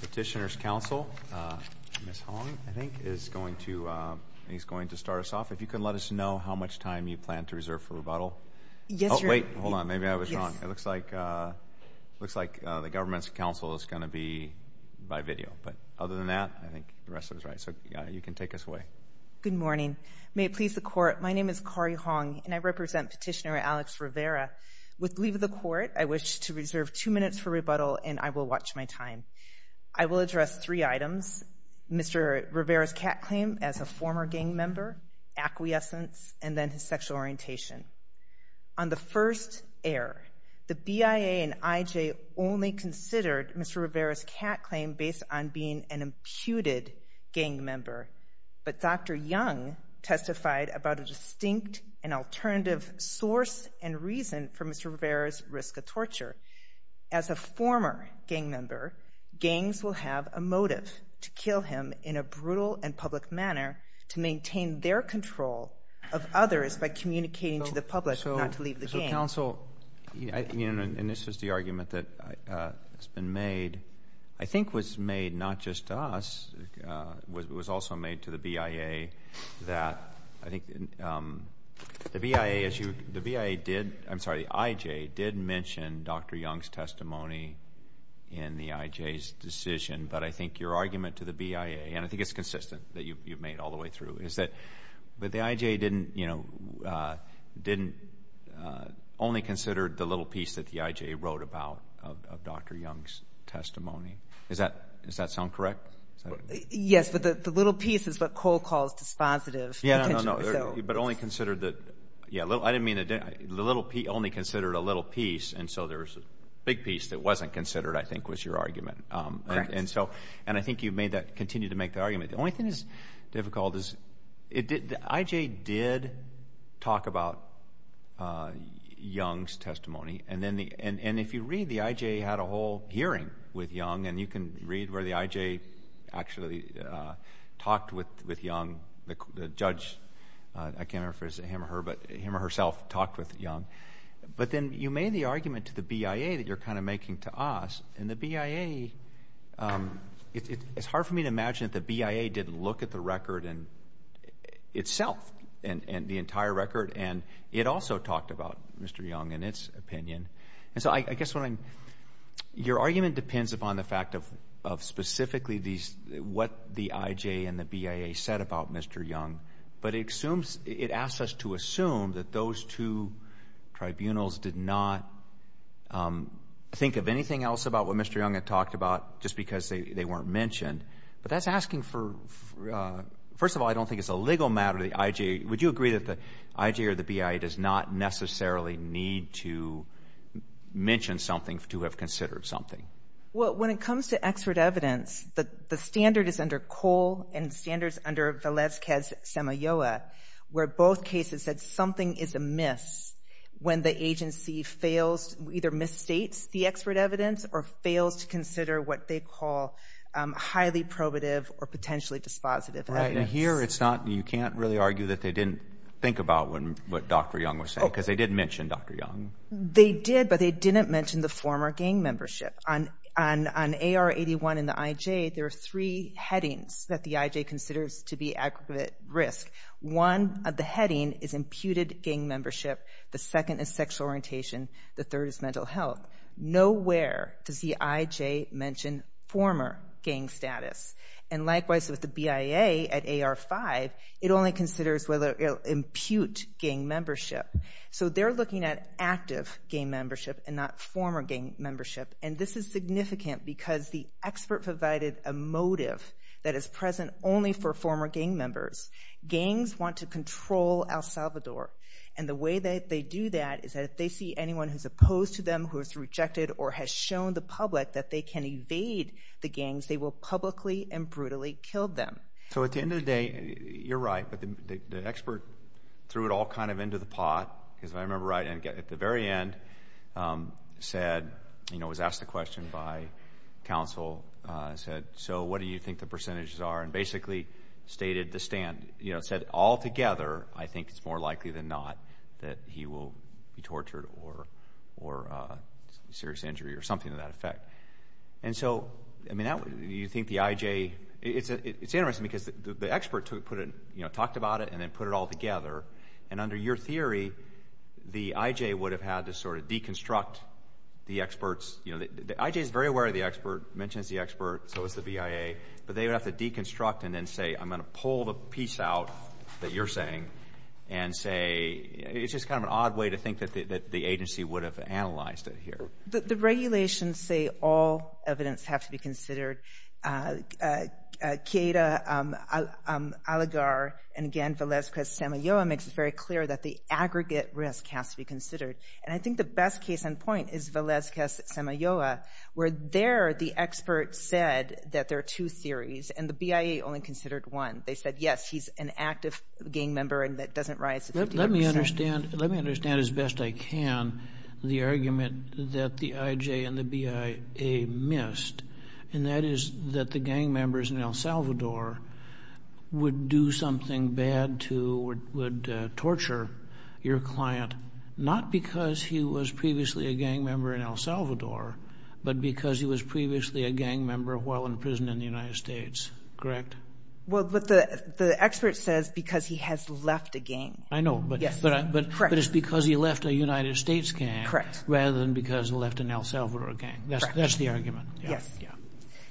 Petitioner's counsel, Ms. Hong, I think, is going to start us off. If you could let us know how much time you plan to reserve for rebuttal. Yes, Your Honor. Oh, wait. Hold on. Maybe I was wrong. It looks like the government's counsel is going to be by video. But other than that, I think the rest of it is right. So, you can take us away. Good morning. May it please the Court, my name is Kari Hong, and I represent Petitioner Alex Rivera. With leave of the Court, I wish to reserve two minutes for rebuttal, and I will watch my time. I will address three items. Mr. Rivera's cat claim as a former gang member, acquiescence, and then his sexual orientation. On the first air, the BIA and IJ only considered Mr. Rivera's cat claim based on being an imputed gang member. But Dr. Young testified about a distinct and alternative source and reason for Mr. Rivera's risk of torture. As a former gang member, gangs will have a motive to kill him in a brutal and public manner to maintain their control of others by communicating to the public, not to leave the gang. Your counsel, and this is the argument that has been made, I think was made not just to us, it was also made to the BIA that the IJ did mention Dr. Young's testimony in the IJ's decision. But I think your argument to the BIA, and I think it's consistent that you've made all the way through, is that the IJ only considered the little piece that the IJ wrote about of Dr. Young's testimony. Does that sound correct? Yes, but the little piece is what Cole calls dispositive. But only considered the little piece, and so there's a big piece that wasn't considered, I think, was your argument. Correct. And I think you've continued to make that argument. The only thing that's difficult is the IJ did talk about Young's testimony, and if you read, the IJ had a whole hearing with Young, and you can read where the IJ actually talked with Young. The judge, I can't remember if it was him or her, but him or herself talked with Young. But then you made the argument to the BIA that you're kind of making to us, and the BIA, it's hard for me to imagine that the BIA didn't look at the record itself, the entire record, and it also talked about Mr. Young and its opinion. And so I guess your argument depends upon the fact of specifically what the IJ and the BIA said about Mr. Young, but it assumes, it asks us to assume that those two tribunals did not think of anything else about what Mr. Young had talked about just because they weren't mentioned. But that's asking for, first of all, I don't think it's a legal matter, the IJ. Would you agree that the IJ or the BIA does not necessarily need to mention something to have considered something? Well, when it comes to expert evidence, the standard is under Cole and the standard is under Velezquez-Semilloa, where both cases said something is amiss when the agency fails, either misstates the expert evidence or fails to consider what they call highly probative or potentially dispositive evidence. Right, and here it's not, you can't really argue that they didn't think about what Dr. Young was saying, because they did mention Dr. Young. They did, but they didn't mention the former gang membership. On AR-81 and the IJ, there are three headings that the IJ considers to be aggregate risk. One of the headings is imputed gang membership, the second is sexual orientation, the third is mental health. Nowhere does the IJ mention former gang status. And likewise with the BIA at AR-5, it only considers whether it'll impute gang membership. So they're looking at active gang membership and not former gang membership, and this is significant because the expert provided a motive that is present only for former gang members. Gangs want to control El Salvador, and the way that they do that is that if they see anyone who's opposed to them, who has rejected or has shown the public that they can evade the gangs, they will publicly and brutally kill them. So at the end of the day, you're right, but the expert threw it all kind of into the pot, because if I remember right, at the very end said, you know, was asked the question by counsel, said, so what do you think the percentages are, and basically stated the stand. You know, it said altogether, I think it's more likely than not that he will be tortured And so, I mean, you think the IJ, it's interesting because the expert talked about it and then put it all together, and under your theory, the IJ would have had to sort of deconstruct the experts. You know, the IJ is very aware of the expert, mentions the expert, so is the BIA, but they would have to deconstruct and then say, I'm going to pull the piece out that you're saying, and say, it's just kind of an odd way to think that the agency would have analyzed it here. The regulations say all evidence have to be considered. Qaeda, Al-Agar, and again, Velazquez-Semilloa makes it very clear that the aggregate risk has to be considered. And I think the best case in point is Velazquez-Semilloa, where there the expert said that there are two theories, and the BIA only considered one. They said, yes, he's an active gang member, and that doesn't rise to 50%. Let me understand as best I can the argument that the IJ and the BIA missed, and that is that the gang members in El Salvador would do something bad to, would torture your client, not because he was previously a gang member in El Salvador, but because he was previously a gang member while in prison in the United States. Correct? Well, but the expert says because he has left a gang. I know, but it's because he left a United States gang rather than because he left an El Salvador gang. That's the argument. Yes.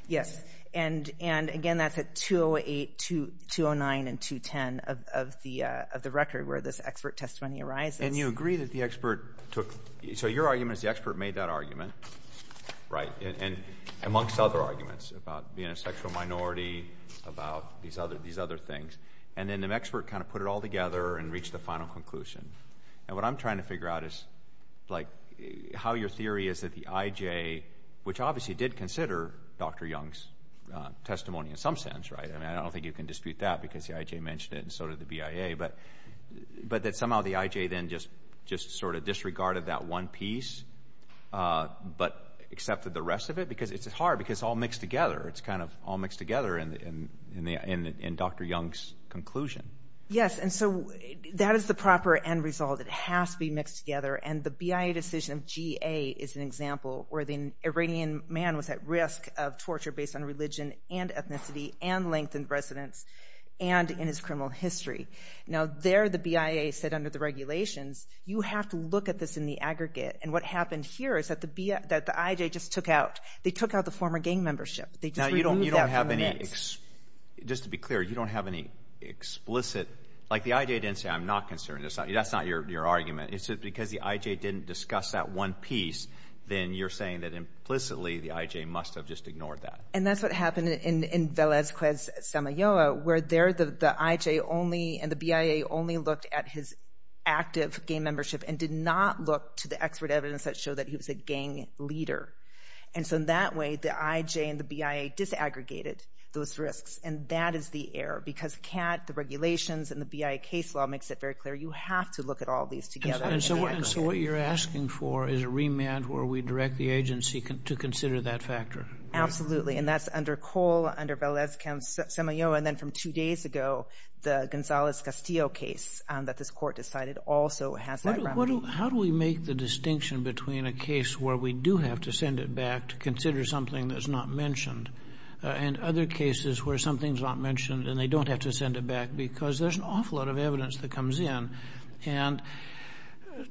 Yes. And again, that's at 208, 209, and 210 of the record where this expert testimony arises. And you agree that the expert took, so your argument is the expert made that argument, right, and amongst other arguments about being a sexual minority, about these other things, and then the expert kind of put it all together and reached the final conclusion. And what I'm trying to figure out is, like, how your theory is that the IJ, which obviously did consider Dr. Young's testimony in some sense, right, and I don't think you can dispute that because the IJ mentioned it and so did the BIA, but that somehow the IJ then just sort of disregarded that one piece but accepted the rest of it? Because it's hard because it's all mixed together. It's kind of all mixed together in Dr. Young's conclusion. Yes, and so that is the proper end result. It has to be mixed together, and the BIA decision of GA is an example where the Iranian man was at risk of torture based on religion and ethnicity and length in residence and in his criminal history. Now, there the BIA said under the regulations, you have to look at this in the aggregate, and what happened here is that the IJ just took out, they took out the former gang membership. Now, you don't have any, just to be clear, you don't have any explicit, like the IJ didn't say I'm not concerned, that's not your argument. Is it because the IJ didn't discuss that one piece, then you're saying that implicitly the IJ must have just ignored that. And that's what happened in Velazquez-Samayoa, where there the IJ only and the BIA only looked at his active gang membership and did not look to the expert evidence that showed that he was a gang leader. And so in that way, the IJ and the BIA disaggregated those risks, and that is the error, because the regulations and the BIA case law makes it very clear you have to look at all these together. And so what you're asking for is a remand where we direct the agency to consider that factor. Absolutely, and that's under Cole, under Velazquez-Samayoa, and then from two days ago, the Gonzales-Castillo case that this court decided also has that remedy. How do we make the distinction between a case where we do have to send it back to consider something that's not mentioned, and other cases where something's not mentioned and they don't have to send it back, because there's an awful lot of evidence that comes in. And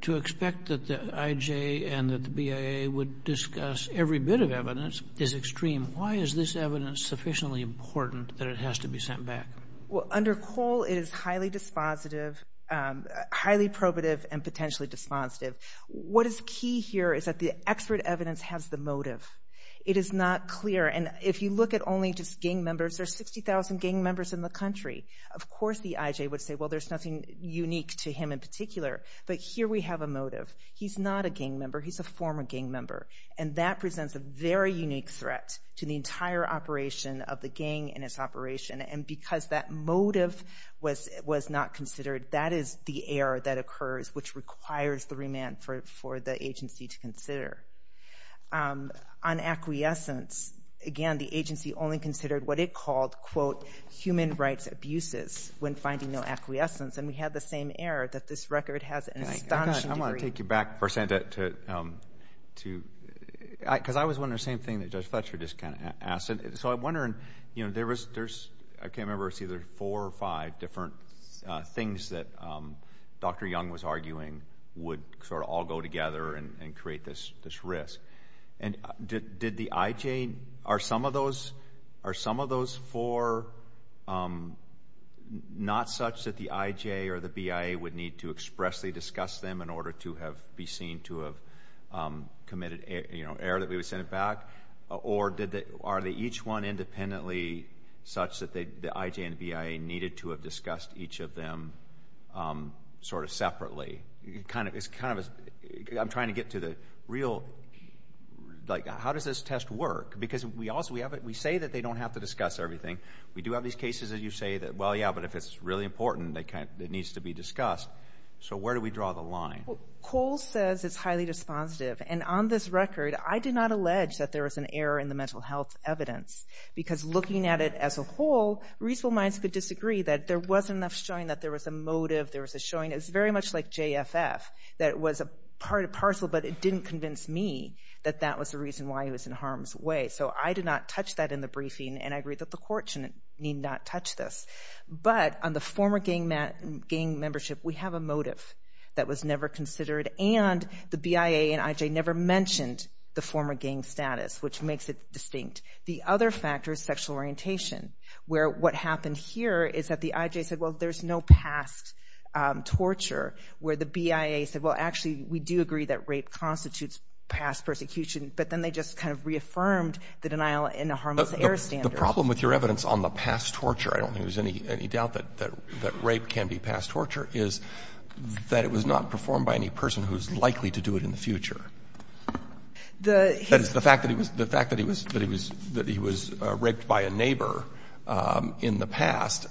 to expect that the IJ and that the BIA would discuss every bit of evidence is extreme. Why is this evidence sufficiently important that it has to be sent back? Well, under Cole, it is highly dispositive, highly probative, and potentially dispositive. What is key here is that the expert evidence has the motive. It is not clear, and if you look at only just gang members, there's 60,000 gang members in the country. Of course the IJ would say, well, there's nothing unique to him in particular, but here we have a motive. He's not a gang member. He's a former gang member, and that presents a very unique threat to the entire operation of the gang and its operation, and because that motive was not considered, that is the error that occurs, which requires the remand for the agency to consider. On acquiescence, again, the agency only considered what it called, quote, human rights abuses when finding no acquiescence, and we had the same error that this record has an astonishing degree. I want to take you back, Percenta, because I was wondering the same thing that Judge Fletcher just kind of asked. So I'm wondering, you know, there's, I can't remember, it's either four or five different things that Dr. Young was arguing would sort of all go together and create this risk, and did the IJ, are some of those four not such that the IJ or the BIA would need to expressly discuss them in order to be seen to have committed error that we would send it back, or are they each one independently such that the IJ and the BIA needed to have discussed each of them sort of separately? It's kind of, I'm trying to get to the real, like, how does this test work? Because we say that they don't have to discuss everything. We do have these cases that you say that, well, yeah, but if it's really important, it needs to be discussed. So where do we draw the line? Well, Cole says it's highly dispositive, and on this record, I did not allege that there was an error in the mental health evidence, because looking at it as a whole, reasonable minds could disagree that there wasn't enough showing that there was a motive, there was a showing, it's very much like JFF, that it was a partial, but it didn't convince me that that was the reason why he was in harm's way. So I did not touch that in the briefing, and I agree that the court need not touch this. But on the former gang membership, we have a motive that was never considered, and the BIA and IJ never mentioned the former gang status, which makes it distinct. The other factor is sexual orientation, where what happened here is that the IJ said, well, there's no past torture, where the BIA said, well, actually, we do agree that rape constitutes past persecution, but then they just kind of reaffirmed the denial in the harmless error standard. The problem with your evidence on the past torture, I don't think there's any doubt that rape can be past torture, is that it was not performed by any person who's likely to do it in the future. The fact that he was raped by a neighbor in the past,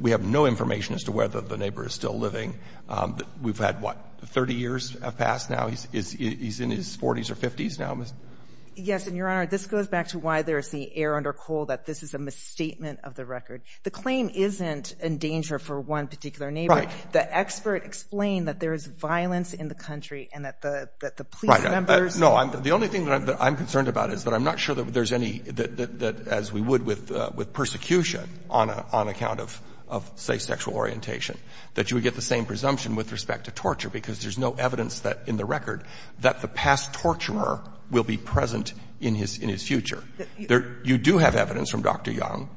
we have no information as to whether the neighbor is still living. We've had, what, 30 years have passed now? He's in his 40s or 50s now? Yes. And, Your Honor, this goes back to why there is the error under Cole that this is a misstatement of the record. The claim isn't in danger for one particular neighbor. Right. The expert explained that there is violence in the country and that the police members. Right. No. The only thing that I'm concerned about is that I'm not sure that there's any, that as we would with persecution on account of, say, sexual orientation, that you would get the same presumption with respect to torture because there's no evidence in the record that the past torturer will be present in his future. You do have evidence from Dr. Young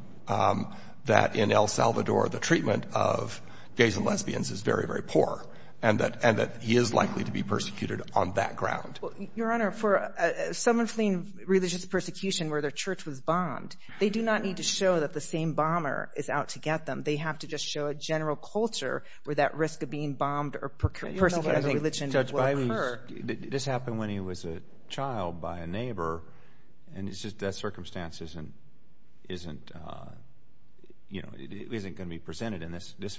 that in El Salvador the treatment of gays and lesbians is very, very poor and that he is likely to be persecuted on that ground. Well, Your Honor, for someone fleeing religious persecution where their church was bombed, they do not need to show that the same bomber is out to get them. They have to just show a general culture where that risk of being bombed or persecuting religion will occur. This happened when he was a child by a neighbor, and that circumstance isn't, you know, isn't going to be presented in this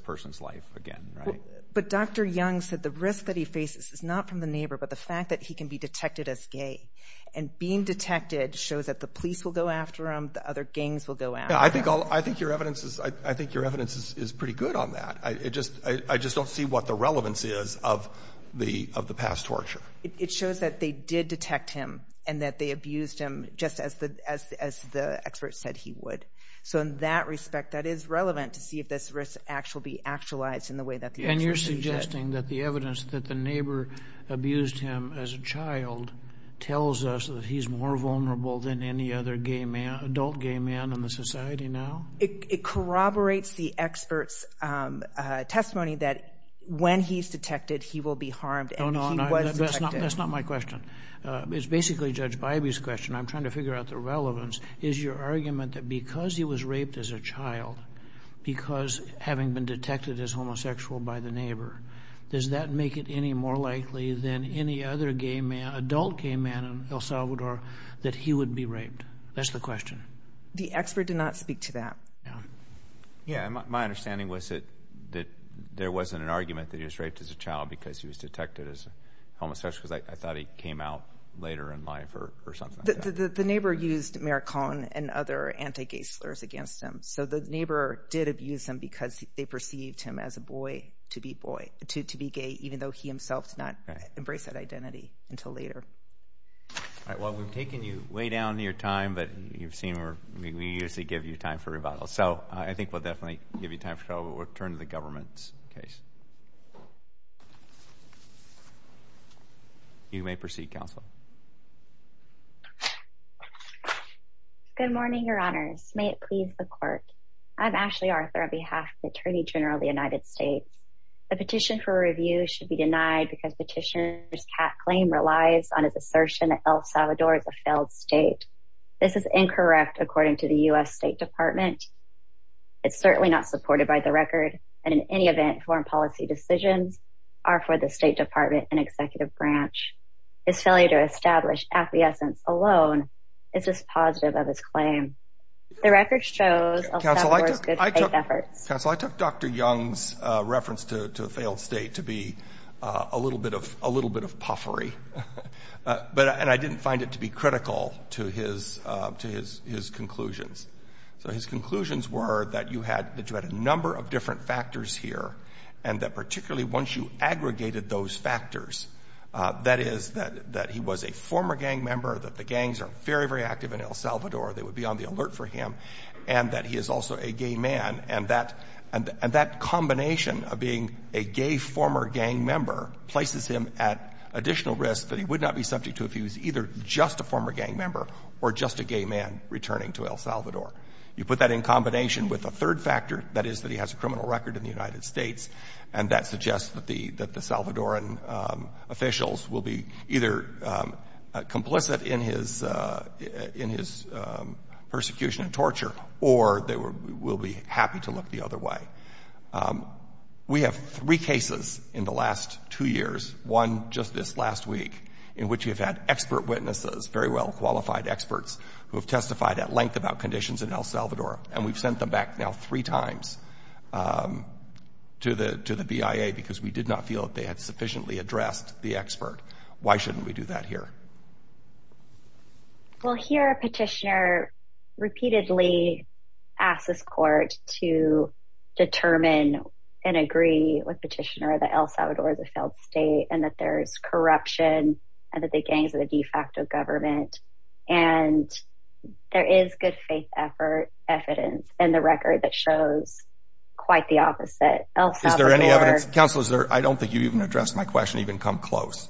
person's life again, right? But Dr. Young said the risk that he faces is not from the neighbor, but the fact that he can be detected as gay. And being detected shows that the police will go after him, the other gangs will go after him. I think your evidence is pretty good on that. I just don't see what the relevance is of the past torture. It shows that they did detect him and that they abused him just as the expert said he would. So in that respect, that is relevant to see if this risk will be actualized in the way that the expert said. And you're suggesting that the evidence that the neighbor abused him as a child tells us that he's more vulnerable than any other adult gay man in the society now? It corroborates the expert's testimony that when he's detected, he will be harmed and he was detected. No, no, that's not my question. It's basically Judge Bybee's question. I'm trying to figure out the relevance. Is your argument that because he was raped as a child, because having been detected as homosexual by the neighbor, does that make it any more likely than any other adult gay man in El Salvador that he would be raped? That's the question. The expert did not speak to that. My understanding was that there wasn't an argument that he was raped as a child because he was detected as homosexual. I thought he came out later in life or something like that. The neighbor used Maricon and other anti-gay slurs against him. So the neighbor did abuse him because they perceived him as a boy to be gay, even though he himself did not embrace that identity until later. All right, well, we've taken you way down in your time, but you've seen we usually give you time for rebuttals. So I think we'll definitely give you time for trouble, but we'll turn to the government's case. You may proceed, counsel. Good morning, your honors. May it please the court. I'm Ashley Arthur on behalf of the Attorney General of the United States. The petition for review should be denied because petitioner's claim relies on his assertion that El Salvador is a failed state. This is incorrect according to the U.S. State Department. It's certainly not supported by the record. And in any event, foreign policy decisions are for the State Department and executive branch. His failure to establish acquiescence alone is dispositive of his claim. The record shows El Salvador's good faith efforts. Counsel, I took Dr. Young's reference to a failed state to be a little bit of puffery, and I didn't find it to be critical to his conclusions. So his conclusions were that you had a number of different factors here, and that particularly once you aggregated those factors, that is, that he was a former gang member, that the gangs are very, very active in El Salvador, they would be on the alert for him, and that he is also a gay man, and that combination of being a gay former gang member places him at additional risk that he would not be subject to if he was either just a former gang member or just a gay man returning to El Salvador. You put that in combination with a third factor, that is, that he has a criminal record in the United States, and that suggests that the Salvadoran officials will be either complicit in his persecution and torture or they will be happy to look the other way. We have three cases in the last two years, one just this last week, in which we've had expert witnesses, very well-qualified experts, who have testified at length about conditions in El Salvador, and we've sent them back now three times to the BIA because we did not feel that they had sufficiently addressed the expert. Why shouldn't we do that here? Well, here a petitioner repeatedly asked this court to determine and agree with petitioner that El Salvador is a failed state, and that there is corruption, and that the gangs are the de facto government, and there is good faith evidence in the record that shows quite the opposite. Is there any evidence? Counsel, I don't think you even addressed my question, even come close.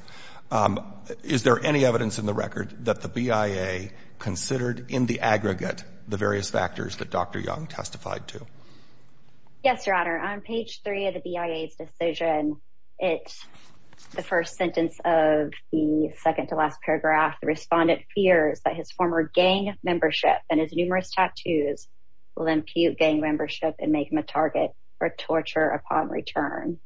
Is there any evidence in the record that the BIA considered in the aggregate the various factors that Dr. Young testified to? Yes, Your Honor. On page three of the BIA's decision, the first sentence of the second to last paragraph, the respondent fears that his former gang membership and his numerous tattoos will impute gang membership and make him a target for torture upon return.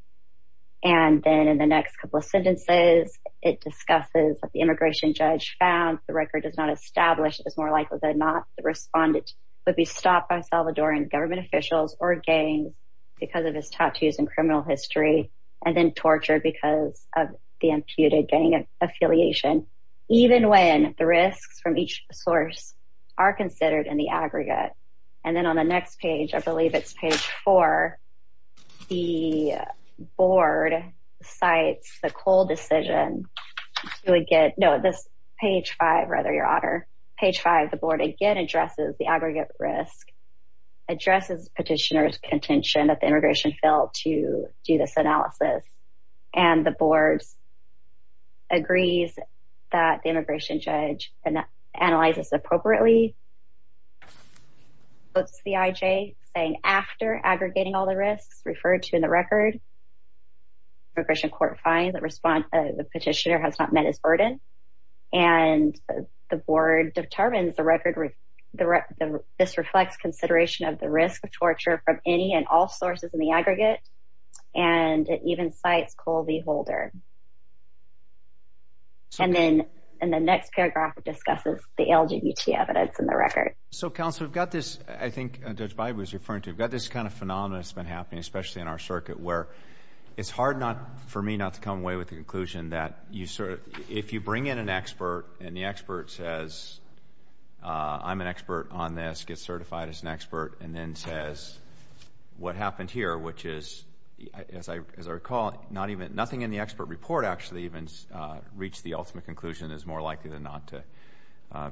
And then in the next couple of sentences, it discusses what the immigration judge found. The record does not establish that it's more likely than not that the respondent would be stopped by Salvadoran government officials or gangs because of his tattoos and criminal history, and then tortured because of the imputed gang affiliation, even when the risks from each source are considered in the aggregate. And then on the next page, I believe it's page four, the board cites the Cole decision to get – no, this page five, rather, Your Honor. Page five, the board again addresses the aggregate risk, addresses petitioner's contention that the immigration failed to do this analysis, and the board agrees that the immigration judge analyzes appropriately. What's the IJ saying after aggregating all the risks referred to in the record? Immigration court finds that the petitioner has not met his burden, and the board determines this reflects consideration of the risk of torture from any and all sources in the aggregate, and it even cites Cole V. Holder. And then in the next paragraph, it discusses the LGBT evidence in the record. So, counsel, we've got this – I think Judge Bide was referring to – we've got this kind of phenomenon that's been happening, especially in our circuit, where it's hard for me not to come away with the conclusion that if you bring in an expert and the expert says, I'm an expert on this, gets certified as an expert, and then says, what happened here, which is, as I recall, nothing in the expert report actually even reached the ultimate conclusion is more likely than not to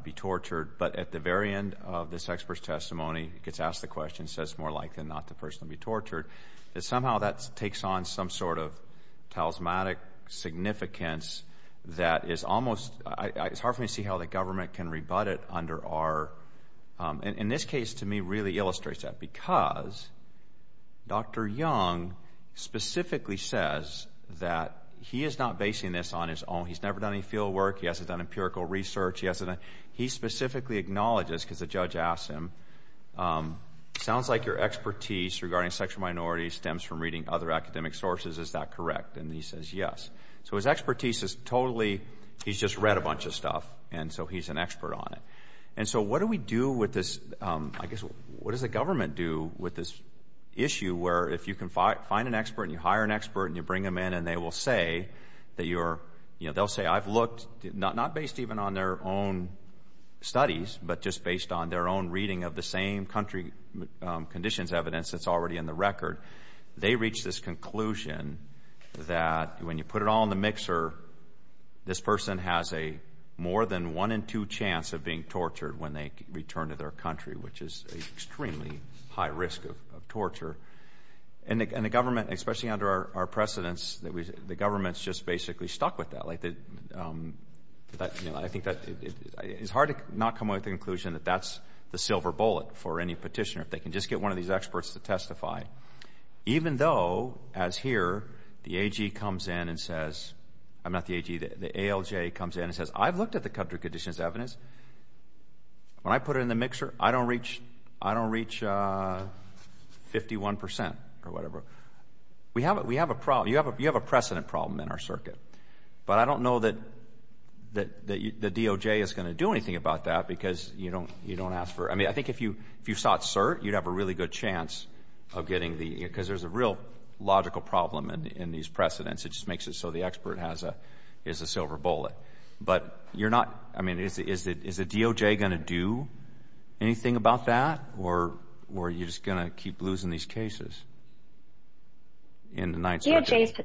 be tortured. But at the very end of this expert's testimony, gets asked the question, says it's more likely than not the person will be tortured, that somehow that takes on some sort of talismanic significance that is almost – it's hard for me to see how the government can rebut it under our – and this case, to me, really illustrates that, because Dr. Young specifically says that he is not basing this on his own. He's never done any field work. He hasn't done empirical research. He specifically acknowledges, because the judge asked him, sounds like your expertise regarding sexual minorities stems from reading other academic sources. Is that correct? And he says, yes. So his expertise is totally – he's just read a bunch of stuff, and so he's an expert on it. And so what do we do with this – I guess, what does the government do with this issue where if you can find an expert and you hire an expert and you bring them in and they will say that you're – they'll say, I've looked, not based even on their own studies, but just based on their own reading of the same country conditions evidence that's already in the record. They reach this conclusion that when you put it all in the mixer, this person has a more than one in two chance of being tortured when they return to their country, which is an extremely high risk of torture. And the government, especially under our precedents, the government's just basically stuck with that. I think that – it's hard to not come to the conclusion that that's the silver bullet for any petitioner if they can just get one of these experts to testify, even though, as here, the AG comes in and says – I'm not the AG. The ALJ comes in and says, I've looked at the country conditions evidence. When I put it in the mixer, I don't reach 51 percent or whatever. We have a problem. You have a precedent problem in our circuit. But I don't know that the DOJ is going to do anything about that because you don't ask for – I mean, I think if you sought cert, you'd have a really good chance of getting the – because there's a real logical problem in these precedents. It just makes it so the expert is a silver bullet. But you're not – I mean, is the DOJ going to do anything about that or are you just going to keep losing these cases in the 9th Circuit? The DOJ's –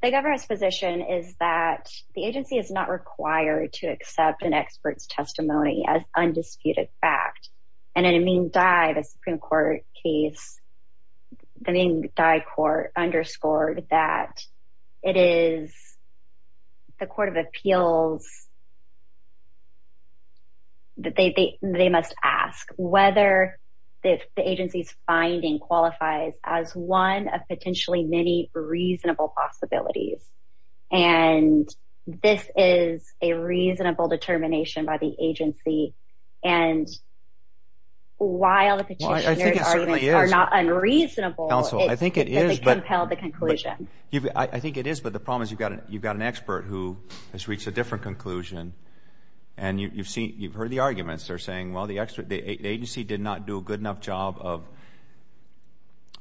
the governor's position is that the agency is not required to accept an expert's testimony as undisputed fact. And in a mean die, the Supreme Court case, the mean die court underscored that it is the court of appeals that they must ask whether the agency's finding qualifies as one of potentially many reasonable possibilities. And this is a reasonable determination by the agency. And while the petitioner's arguments are not unreasonable, they compel the conclusion. I think it is, but the problem is you've got an expert who has reached a different conclusion. And you've seen – you've heard the arguments. They're saying, well, the agency did not do a good enough job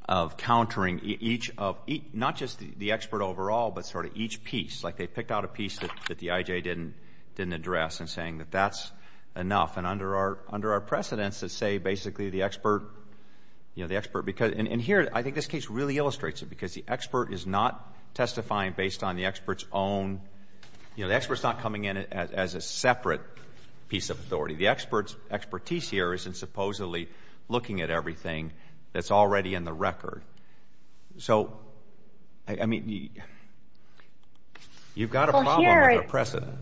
of countering each of – not just the expert overall, but sort of each piece. Like they picked out a piece that the IJ didn't address and saying that that's enough. And under our precedents that say basically the expert – you know, the expert – and here I think this case really illustrates it because the expert is not testifying based on the expert's own – you know, the expert's not coming in as a separate piece of authority. The expert's expertise here isn't supposedly looking at everything that's already in the record. So, I mean, you've got a problem with the precedent.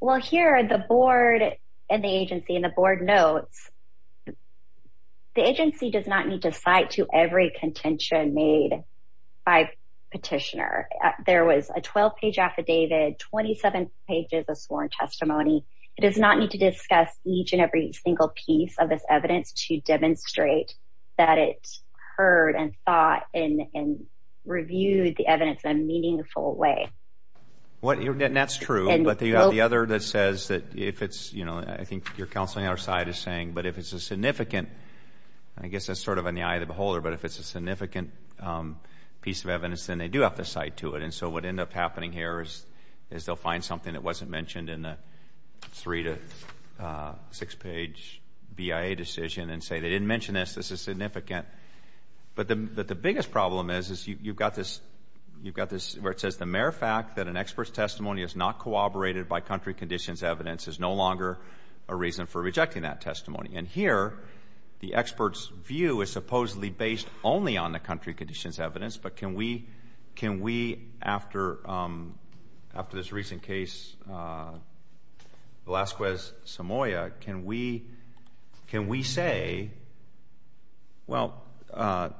Well, here the board and the agency and the board notes the agency does not need to cite to every contention made by the petitioner. There was a 12-page affidavit, 27 pages of sworn testimony. It does not need to discuss each and every single piece of this evidence to demonstrate that it heard and thought and reviewed the evidence in a meaningful way. And that's true, but you have the other that says that if it's – you know, I think you're counseling our side is saying, but if it's a significant – I guess that's sort of in the eye of the beholder, but if it's a significant piece of evidence then they do have to cite to it. And so what ends up happening here is they'll find something that wasn't mentioned in the three- to six-page BIA decision and say they didn't mention this, this is significant. But the biggest problem is you've got this – where it says the mere fact that an expert's testimony is not corroborated by country conditions evidence is no longer a reason for rejecting that testimony. And here the expert's view is supposedly based only on the country conditions evidence, but can we, after this recent case, Velazquez-Samoa, can we say, well, the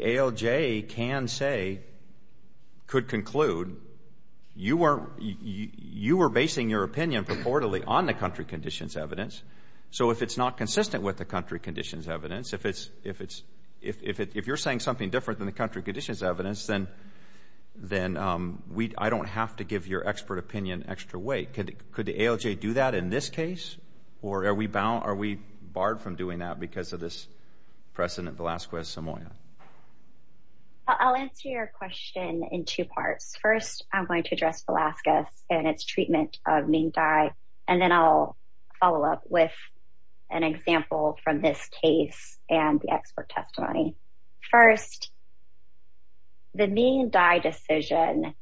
ALJ can say, could conclude you were basing your opinion purportedly on the country conditions evidence, so if it's not consistent with the country conditions evidence, if you're saying something different than the country conditions evidence, then I don't have to give your expert opinion extra weight. Could the ALJ do that in this case, or are we barred from doing that because of this precedent, Velazquez-Samoa? I'll answer your question in two parts. First, I'm going to address Velazquez and its treatment of Ming Dai, and then I'll follow up with an example from this case and the expert testimony. First, the Ming Dai decision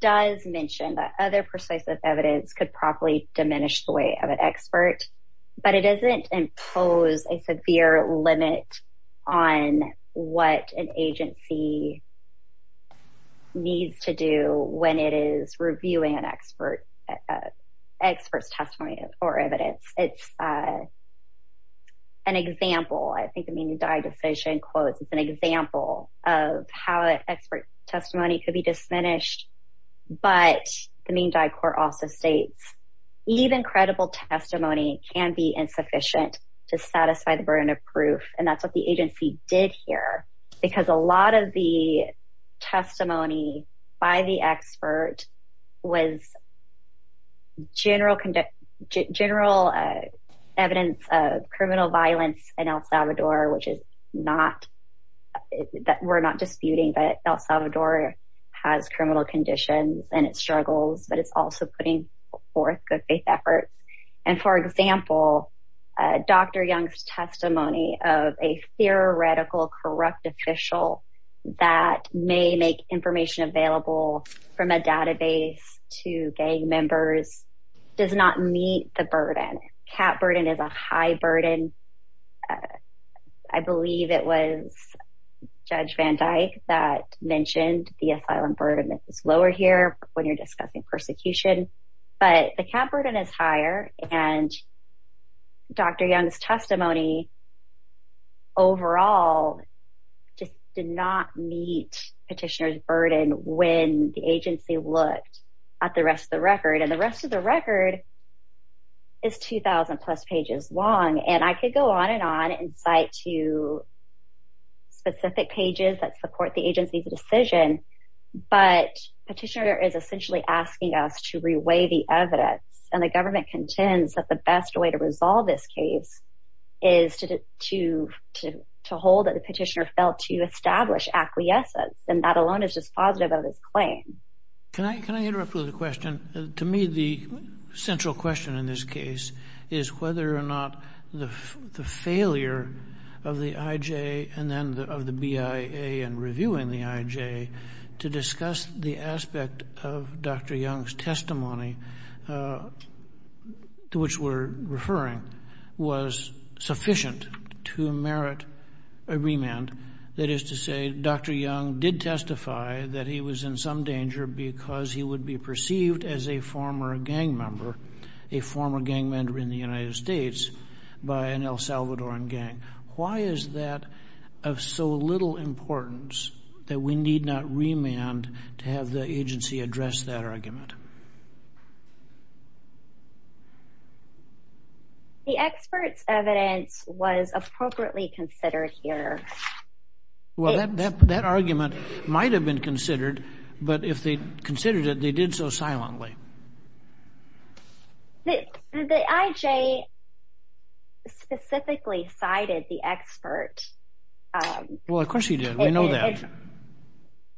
does mention that other persuasive evidence could probably diminish the weight of an expert, but it doesn't impose a severe limit on what an agency needs to do when it is reviewing an expert's testimony or evidence. It's an example, I think the Ming Dai decision quotes, it's an example of how expert testimony could be diminished, but the Ming Dai court also states, even credible testimony can be insufficient to satisfy the burden of proof, and that's what the agency did here, because a lot of the testimony by the expert was general evidence of criminal violence in El Salvador, which we're not disputing, but El Salvador has criminal conditions and it struggles, but it's also putting forth good faith efforts. And for example, Dr. Young's testimony of a theoretical corrupt official that may make information available from a database to gang members does not meet the burden. Cap burden is a high burden. I believe it was Judge Van Dyke that mentioned the asylum burden is lower here when you're discussing persecution, but the cap burden is higher, and Dr. Young's testimony overall just did not meet petitioner's burden when the agency looked at the rest of the record, and the rest of the record is 2,000 plus pages long, and I could go on and on and cite to specific pages that support the agency's decision, but petitioner is essentially asking us to re-weigh the evidence, and the government contends that the best way to resolve this case is to hold that the petitioner failed to establish acquiescence, and that alone is just positive of his claim. Can I interrupt with a question? To me, the central question in this case is whether or not the failure of the IJ and then of the BIA in reviewing the IJ to discuss the aspect of Dr. Young's testimony to which we're referring was sufficient to merit a remand. That is to say, Dr. Young did testify that he was in some danger because he would be perceived as a former gang member, a former gang member in the United States by an El Salvadoran gang. Why is that of so little importance that we need not remand to have the agency address that argument? The expert's evidence was appropriately considered here. Well, that argument might have been considered, but if they considered it, they did so silently. The IJ specifically cited the expert. Well, of course he did. We know that.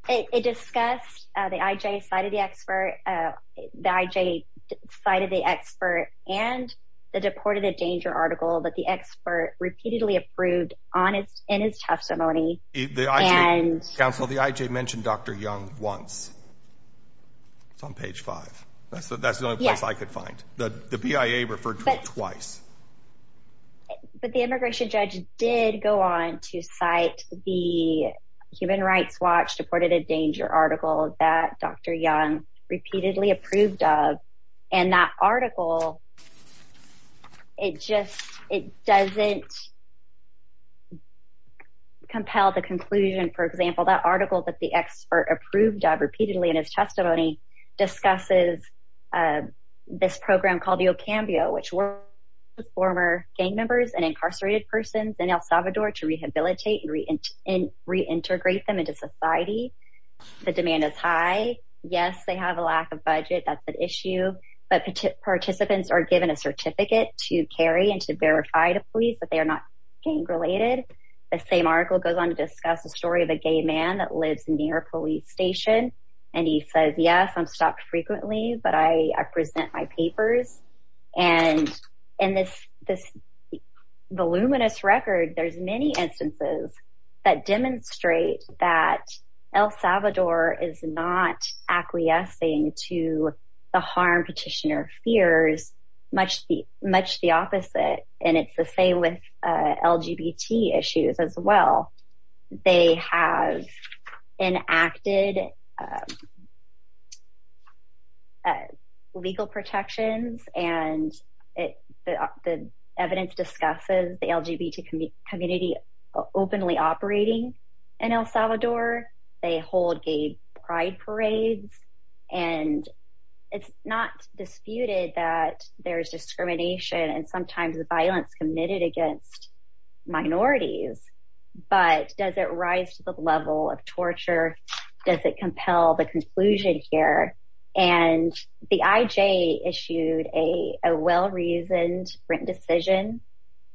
It discussed the IJ cited the expert, the IJ cited the expert, and the Deported in Danger article that the expert repeatedly approved in his testimony. Counsel, the IJ mentioned Dr. Young once. It's on page five. That's the only place I could find. The BIA referred to him twice. But the immigration judge did go on to cite the Human Rights Watch Deported in Danger article that Dr. Young repeatedly approved of, and that article, it just doesn't compel the conclusion. For example, that article that the expert approved of repeatedly in his testimony discusses this program called the Ocambio, which works with former gang members and incarcerated persons in El Salvador to rehabilitate and reintegrate them into society. The demand is high. Yes, they have a lack of budget. That's an issue. But participants are given a certificate to carry and to verify to police, but they are not gang-related. The same article goes on to discuss the story of a gay man that lives near a police station, and he says, yes, I'm stopped frequently, but I present my papers. And in this voluminous record, there's many instances that demonstrate that El Salvador is not acquiescing to the harm petitioner fears, much the opposite, and it's the same with LGBT issues as well. They have enacted legal protections, and the evidence discusses the LGBT community openly operating in El Salvador. They hold gay pride parades, and it's not disputed that there's discrimination and sometimes violence committed against minorities, but does it rise to the level of torture? Does it compel the conclusion here? And the IJ issued a well-reasoned written decision.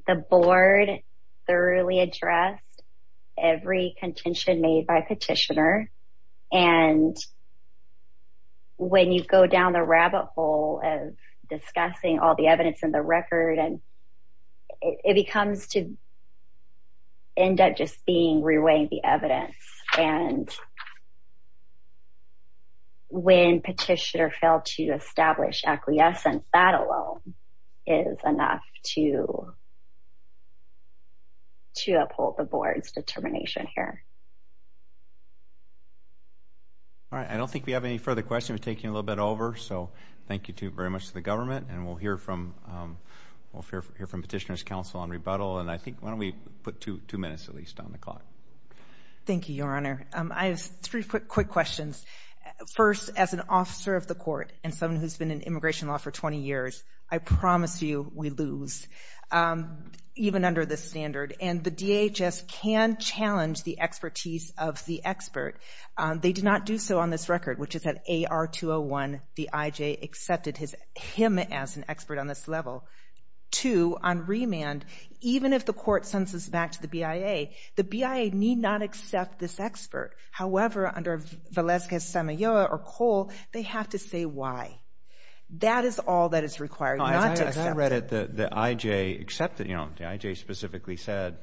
The board thoroughly addressed every contention made by petitioner, and when you go down the rabbit hole of discussing all the evidence in the record, it becomes to end up just being reweighing the evidence. And when petitioner failed to establish acquiescence, that alone is enough to uphold the board's determination here. All right. I don't think we have any further questions. We're taking a little bit over, so thank you very much to the government, and we'll hear from Petitioner's Council on Rebuttal, and I think why don't we put two minutes at least on the clock. Thank you, Your Honor. I have three quick questions. First, as an officer of the court and someone who's been in immigration law for 20 years, I promise you we lose, even under this standard, and the DHS can challenge the expertise of the expert. They did not do so on this record, which is that AR-201, the IJ, accepted him as an expert on this level. Two, on remand, even if the court sends this back to the BIA, the BIA need not accept this expert. However, under Valeska-Samayoa or Cole, they have to say why. That is all that is required, not to accept it. I read it, the IJ accepted, you know, the IJ specifically said,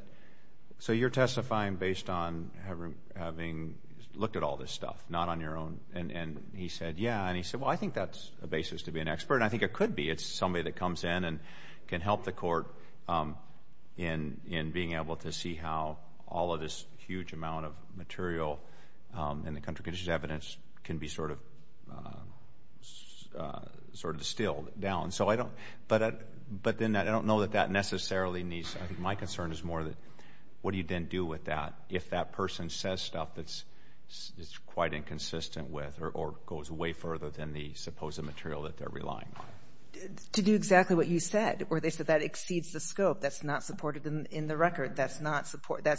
so you're testifying based on having looked at all this stuff, not on your own. And he said, yeah. And he said, well, I think that's the basis to be an expert, and I think it could be. It's somebody that comes in and can help the court in being able to see how all of this huge amount of material in the country conditions evidence can be sort of distilled down. So I don't, but then I don't know that that necessarily needs, my concern is more that what do you then do with that if that person says stuff that's quite inconsistent with or goes way further than the supposed material that they're relying on? To do exactly what you said, or they said that exceeds the scope. That's not supported in the record. That's not supported.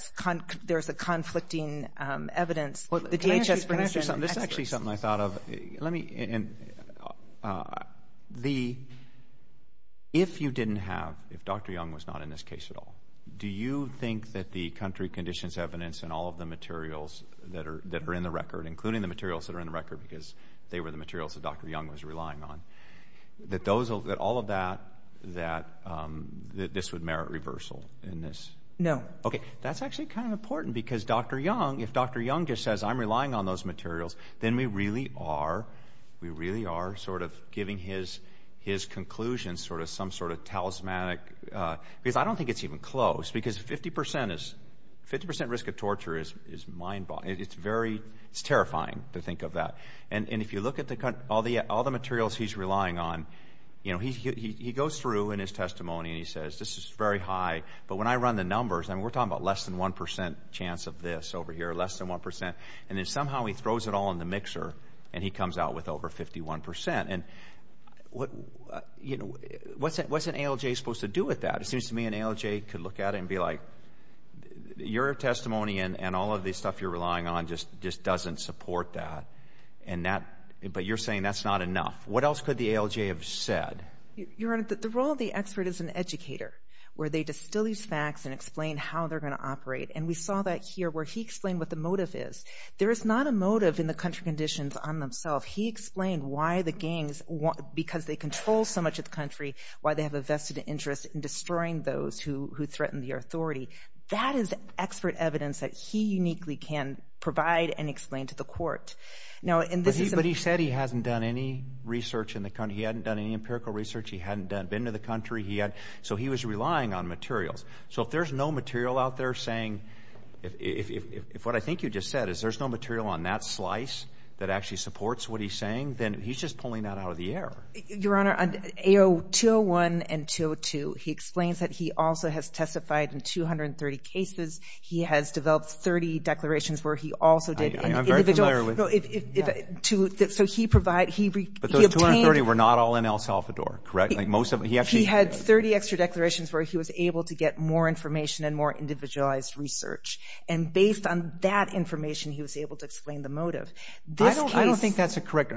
There's a conflicting evidence. Can I ask you something? This is actually something I thought of. If you didn't have, if Dr. Young was not in this case at all, do you think that the country conditions evidence and all of the materials that are in the record, because they were the materials that Dr. Young was relying on, that all of that, that this would merit reversal in this? No. Okay. That's actually kind of important because Dr. Young, if Dr. Young just says I'm relying on those materials, then we really are sort of giving his conclusions sort of some sort of talismanic, because I don't think it's even close, because 50% risk of torture is mind-boggling. It's terrifying to think of that. And if you look at all the materials he's relying on, he goes through in his testimony and he says this is very high, but when I run the numbers, and we're talking about less than 1% chance of this over here, less than 1%, and then somehow he throws it all in the mixer and he comes out with over 51%. What's an ALJ supposed to do with that? It seems to me an ALJ could look at it and be like, your testimony and all of the stuff you're relying on just doesn't support that, but you're saying that's not enough. What else could the ALJ have said? Your Honor, the role of the expert is an educator, where they distill these facts and explain how they're going to operate, and we saw that here where he explained what the motive is. There is not a motive in the country conditions on themselves. He explained why the gangs, because they control so much of the country, why they have a vested interest in destroying those who threaten the authority. That is expert evidence that he uniquely can provide and explain to the court. But he said he hasn't done any research in the country. He hadn't done any empirical research. He hadn't been to the country. So he was relying on materials. So if there's no material out there saying, if what I think you just said is there's no material on that slice that actually supports what he's saying, then he's just pulling that out of the air. Your Honor, on AO 201 and 202, he explains that he also has testified in 230 cases. He has developed 30 declarations where he also did individual. I'm very familiar with. So he obtained. But those 230 were not all in El Salvador, correct? He had 30 extra declarations where he was able to get more information and more individualized research. And based on that information, he was able to explain the motive. I don't think that's a correct,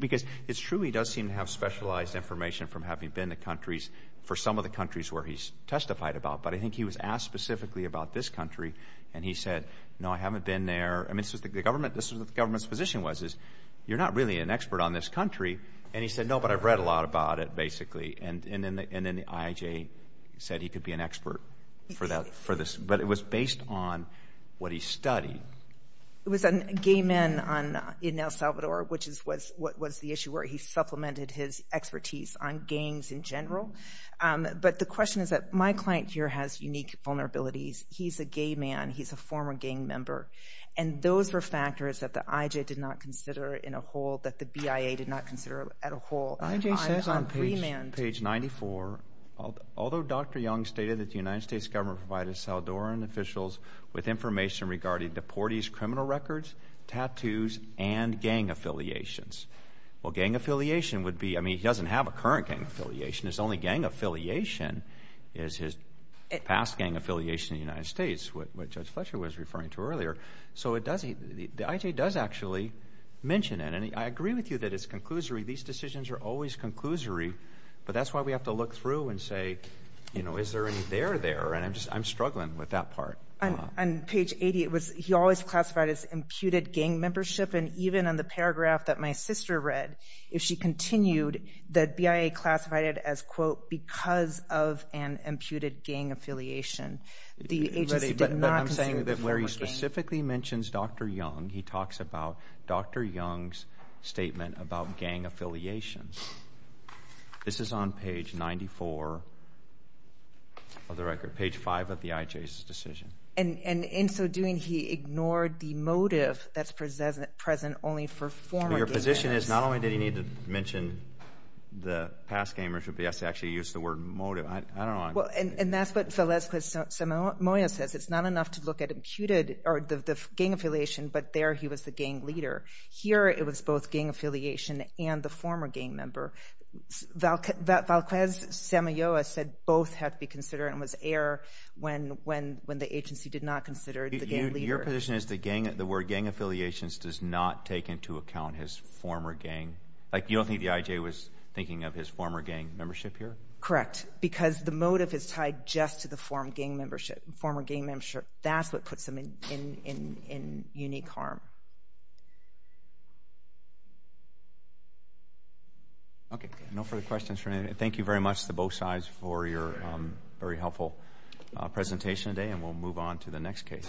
because it's true he does seem to have specialized information from having been to countries for some of the countries where he's testified about. But I think he was asked specifically about this country, and he said, no, I haven't been there. I mean, this is what the government's position was, is you're not really an expert on this country. And he said, no, but I've read a lot about it, basically. And then the IAJ said he could be an expert for this. But it was based on what he studied. It was on gay men in El Salvador, which was the issue where he supplemented his expertise on gangs in general. But the question is that my client here has unique vulnerabilities. He's a gay man. He's a former gang member. And those were factors that the IAJ did not consider in a whole, that the BIA did not consider at a whole. IAJ says on page 94, although Dr. Young stated that the United States government provided El Salvadoran officials with information regarding deportees' criminal records, tattoos, and gang affiliations. Well, gang affiliation would be, I mean, he doesn't have a current gang affiliation. His only gang affiliation is his past gang affiliation in the United States, which Judge Fletcher was referring to earlier. So the IAJ does actually mention it. And I agree with you that it's conclusory. These decisions are always conclusory. But that's why we have to look through and say, you know, is there any there there? And I'm struggling with that part. On page 80, he always classified it as imputed gang membership. And even in the paragraph that my sister read, if she continued, the BIA classified it as, quote, because of an imputed gang affiliation. The agency did not consider the former gang. But I'm saying that where he specifically mentions Dr. Young, he talks about Dr. Young's statement about gang affiliations. This is on page 94 of the record, page 5 of the IAJ's decision. And in so doing, he ignored the motive that's present only for former gang members. Your position is not only did he need to mention the past gang membership, he has to actually use the word motive. I don't know. And that's what Valesquez-Samoa says. It's not enough to look at imputed or the gang affiliation, but there he was the gang leader. Here it was both gang affiliation and the former gang member. Valesquez-Samoa said both had to be considered and was error when the agency did not consider the gang leader. Your position is the word gang affiliations does not take into account his former gang? Like you don't think the IAJ was thinking of his former gang membership here? Correct, because the motive is tied just to the former gang membership. That's what puts them in unique harm. Okay, no further questions. Thank you very much to both sides for your very helpful presentation today, and we'll move on to the next case.